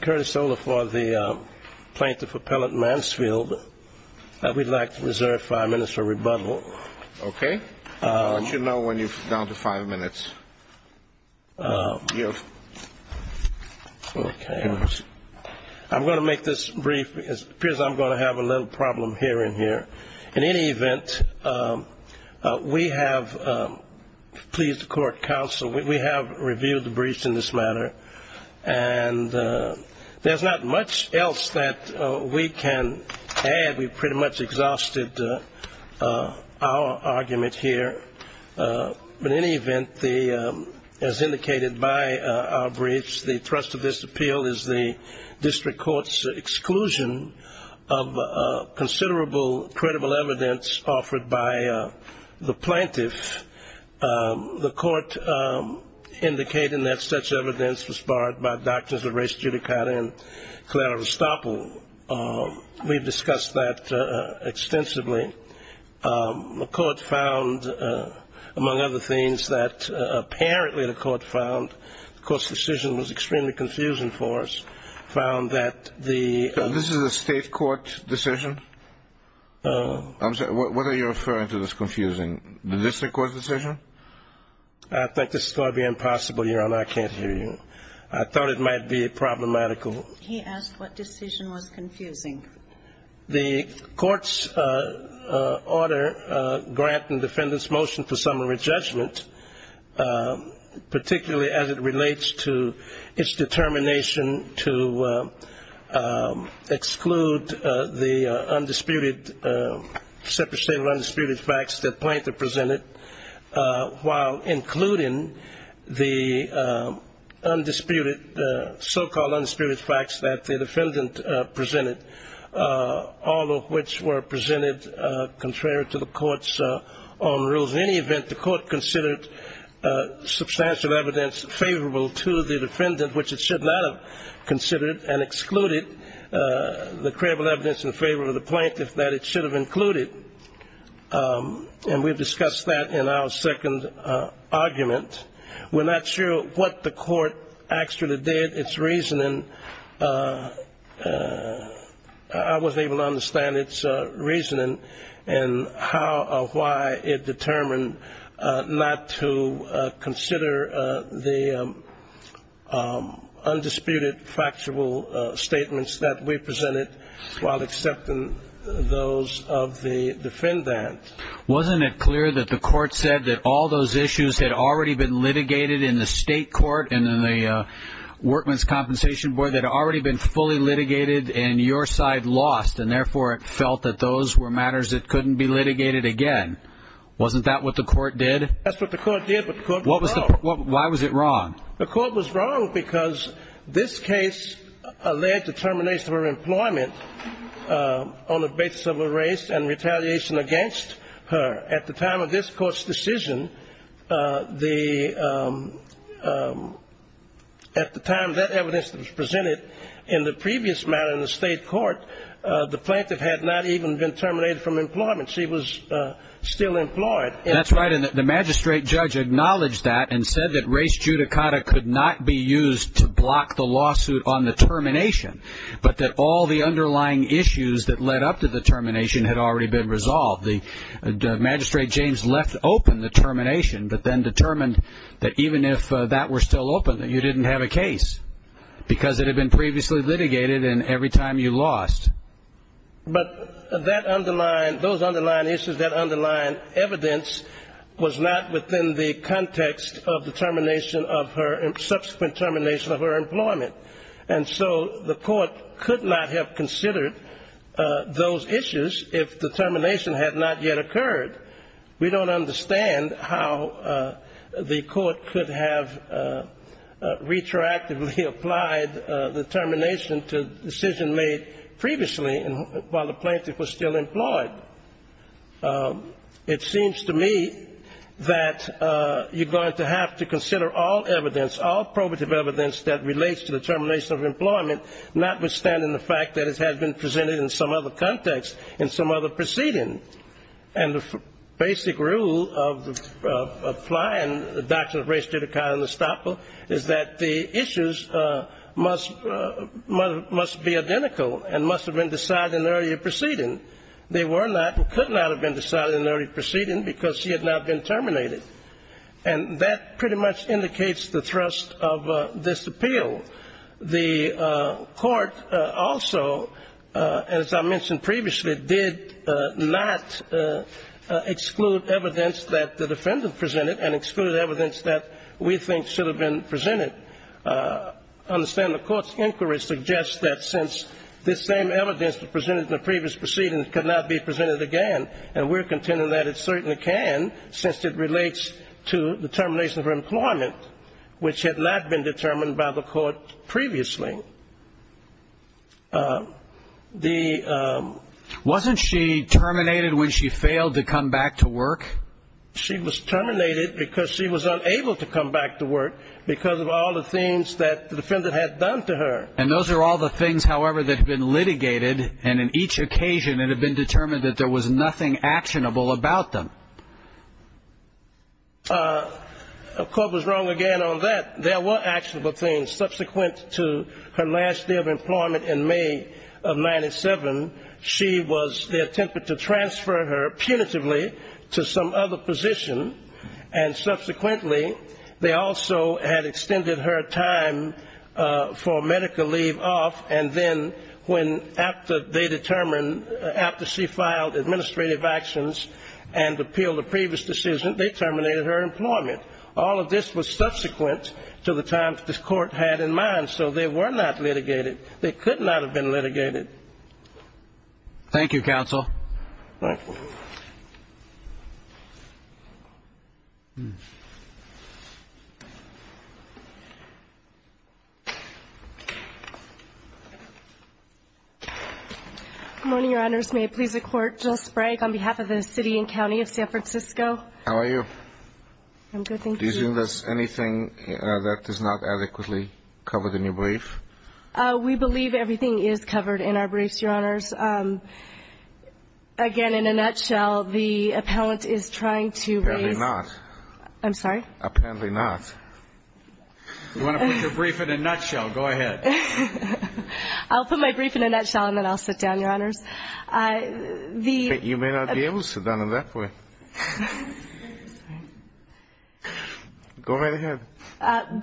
Curtis Olafor, the plaintiff appellant Mansfield. We'd like to reserve five minutes for rebuttal. Okay. I'll let you know when you're down to five minutes. Okay. I'm going to make this brief because it appears I'm going to have a little problem here and here. In any event, we have pleased the court counsel. We have reviewed the briefs in this matter. And there's not much else that we can add. We've pretty much exhausted our argument here. But in any event, as indicated by our briefs, the thrust of this appeal is the district court's exclusion of considerable, credible evidence offered by the plaintiff. The court indicated that such evidence was borrowed by Doctrines of Race, Judicata and Clara Vestapo. We've discussed that extensively. The court found, among other things, that apparently the court found, the court's decision was extremely confusing for us, found that the... So this is a state court decision? I'm sorry, what are you referring to that's confusing? The district court's decision? I think this is going to be impossible, Your Honor. I can't hear you. I thought it might be problematical. He asked what decision was confusing. The court's order granting defendant's motion for summary judgment, particularly as it relates to its determination to exclude the undisputed, separation of undisputed facts that plaintiff presented, while including the undisputed, so-called undisputed facts that the defendant presented, all of which were presented contrary to the court's own rules. In any event, the court considered substantial evidence favorable to the defendant, which it should not have considered and excluded the credible evidence in favor of the plaintiff that it should have included. And we've discussed that in our second argument. We're not sure what the court actually did, its reasoning. I wasn't able to understand its reasoning and how or why it determined not to consider the undisputed, factual statements that we presented while accepting those of the defendant. Wasn't it clear that the court said that all those issues had already been litigated in the state court and in the workman's compensation board that had already been fully litigated and your side lost, and therefore it felt that those were matters that couldn't be litigated again? Wasn't that what the court did? That's what the court did, but the court was wrong. Why was it wrong? The court was wrong because this case alleged determination of her employment on the basis of a race and retaliation against her. At the time of this court's decision, at the time that evidence was presented in the previous matter in the state court, the plaintiff had not even been terminated from employment. She was still employed. That's right, and the magistrate judge acknowledged that and said that race judicata could not be used to block the lawsuit on the termination, but that all the underlying issues that led up to the termination had already been resolved. The magistrate, James, left open the termination but then determined that even if that were still open, that you didn't have a case because it had been previously litigated and every time you lost. But those underlying issues, that underlying evidence was not within the context of the subsequent termination of her employment, and so the court could not have considered those issues if the termination had not yet occurred. We don't understand how the court could have retroactively applied the termination to a decision made previously while the plaintiff was still employed. It seems to me that you're going to have to consider all evidence, all probative evidence that relates to the termination of employment, notwithstanding the fact that it has been presented in some other context in some other proceeding. And the basic rule of applying the doctrine of race judicata in the statute is that the issues must be identical and must have been decided in the earlier proceeding. They were not and could not have been decided in the earlier proceeding because she had not been terminated. And that pretty much indicates the thrust of this appeal. The court also, as I mentioned previously, did not exclude evidence that the defendant presented and excluded evidence that we think should have been presented. Understand the court's inquiry suggests that since this same evidence presented in the previous proceeding could not be presented again, and we're contending that it certainly can since it relates to the termination of her employment, which had not been determined by the court previously. Wasn't she terminated when she failed to come back to work? She was terminated because she was unable to come back to work because of all the things that the defendant had done to her. And those are all the things, however, that have been litigated, and in each occasion it had been determined that there was nothing actionable about them. The court was wrong again on that. There were actionable things. Subsequent to her last day of employment in May of 97, she was attempted to transfer her punitively to some other position, and subsequently they also had extended her time for medical leave off, and then when they determined after she filed administrative actions and appealed a previous decision, they terminated her employment. All of this was subsequent to the time the court had in mind, so they were not litigated. They could not have been litigated. Thank you, counsel. Thank you. Good morning, Your Honors. May it please the Court? Jill Sprague on behalf of the city and county of San Francisco. How are you? I'm good, thank you. Do you think there's anything that is not adequately covered in your brief? We believe everything is covered in our briefs, Your Honors. Again, in a nutshell, the appellant is trying to raise the ---- Apparently not. I'm sorry? Apparently not. You want to put your brief in a nutshell. Go ahead. I'll put my brief in a nutshell and then I'll sit down, Your Honors. You may not be able to sit down in that way. Go right ahead.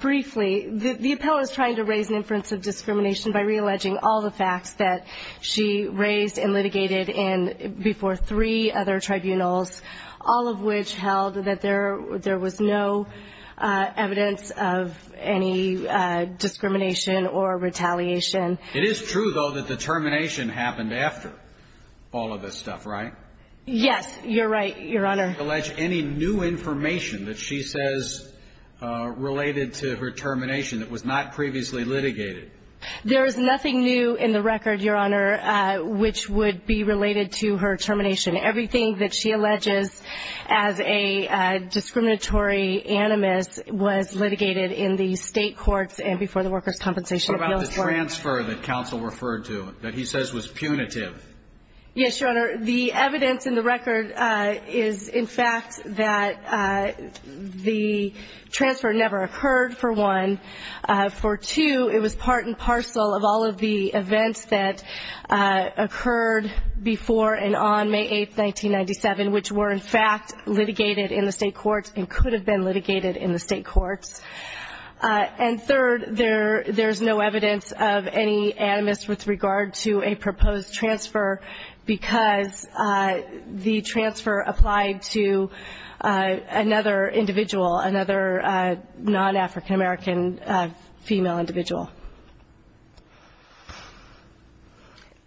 Briefly, the appellant is trying to raise an inference of discrimination by realleging all the facts that she raised and litigated before three other tribunals, all of which held that there was no evidence of any discrimination or retaliation. It is true, though, that the termination happened after all of this stuff, right? Yes, you're right, Your Honor. Did she allege any new information that she says related to her termination that was not previously litigated? There is nothing new in the record, Your Honor, which would be related to her termination. Everything that she alleges as a discriminatory animus was litigated in the state courts and before the Workers' Compensation Appeals Court. What about the transfer that counsel referred to that he says was punitive? Yes, Your Honor. The evidence in the record is, in fact, that the transfer never occurred, for one. For two, it was part and parcel of all of the events that occurred before and on May 8, 1997, which were, in fact, litigated in the state courts and could have been litigated in the state courts. And third, there's no evidence of any animus with regard to a proposed transfer because the transfer applied to another individual, another non-African American female individual.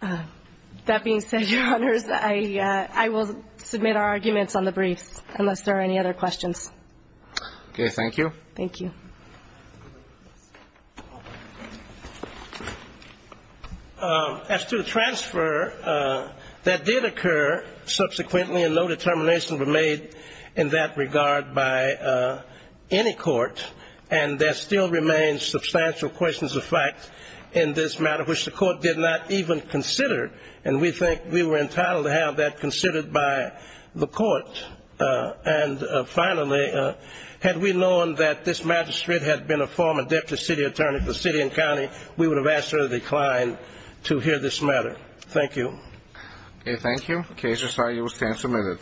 That being said, Your Honors, I will submit our arguments on the briefs unless there are any other questions. Okay. Thank you. Thank you. As to the transfer, that did occur subsequently and no determination was made in that regard by any court. And there still remains substantial questions of fact in this matter, which the court did not even consider. And we think we were entitled to have that considered by the court. And finally, had we known that this magistrate had been a former deputy city attorney for city and county, we would have asked her to decline to hear this matter. Thank you. Okay. Thank you. The case is signed. You will stand submitted.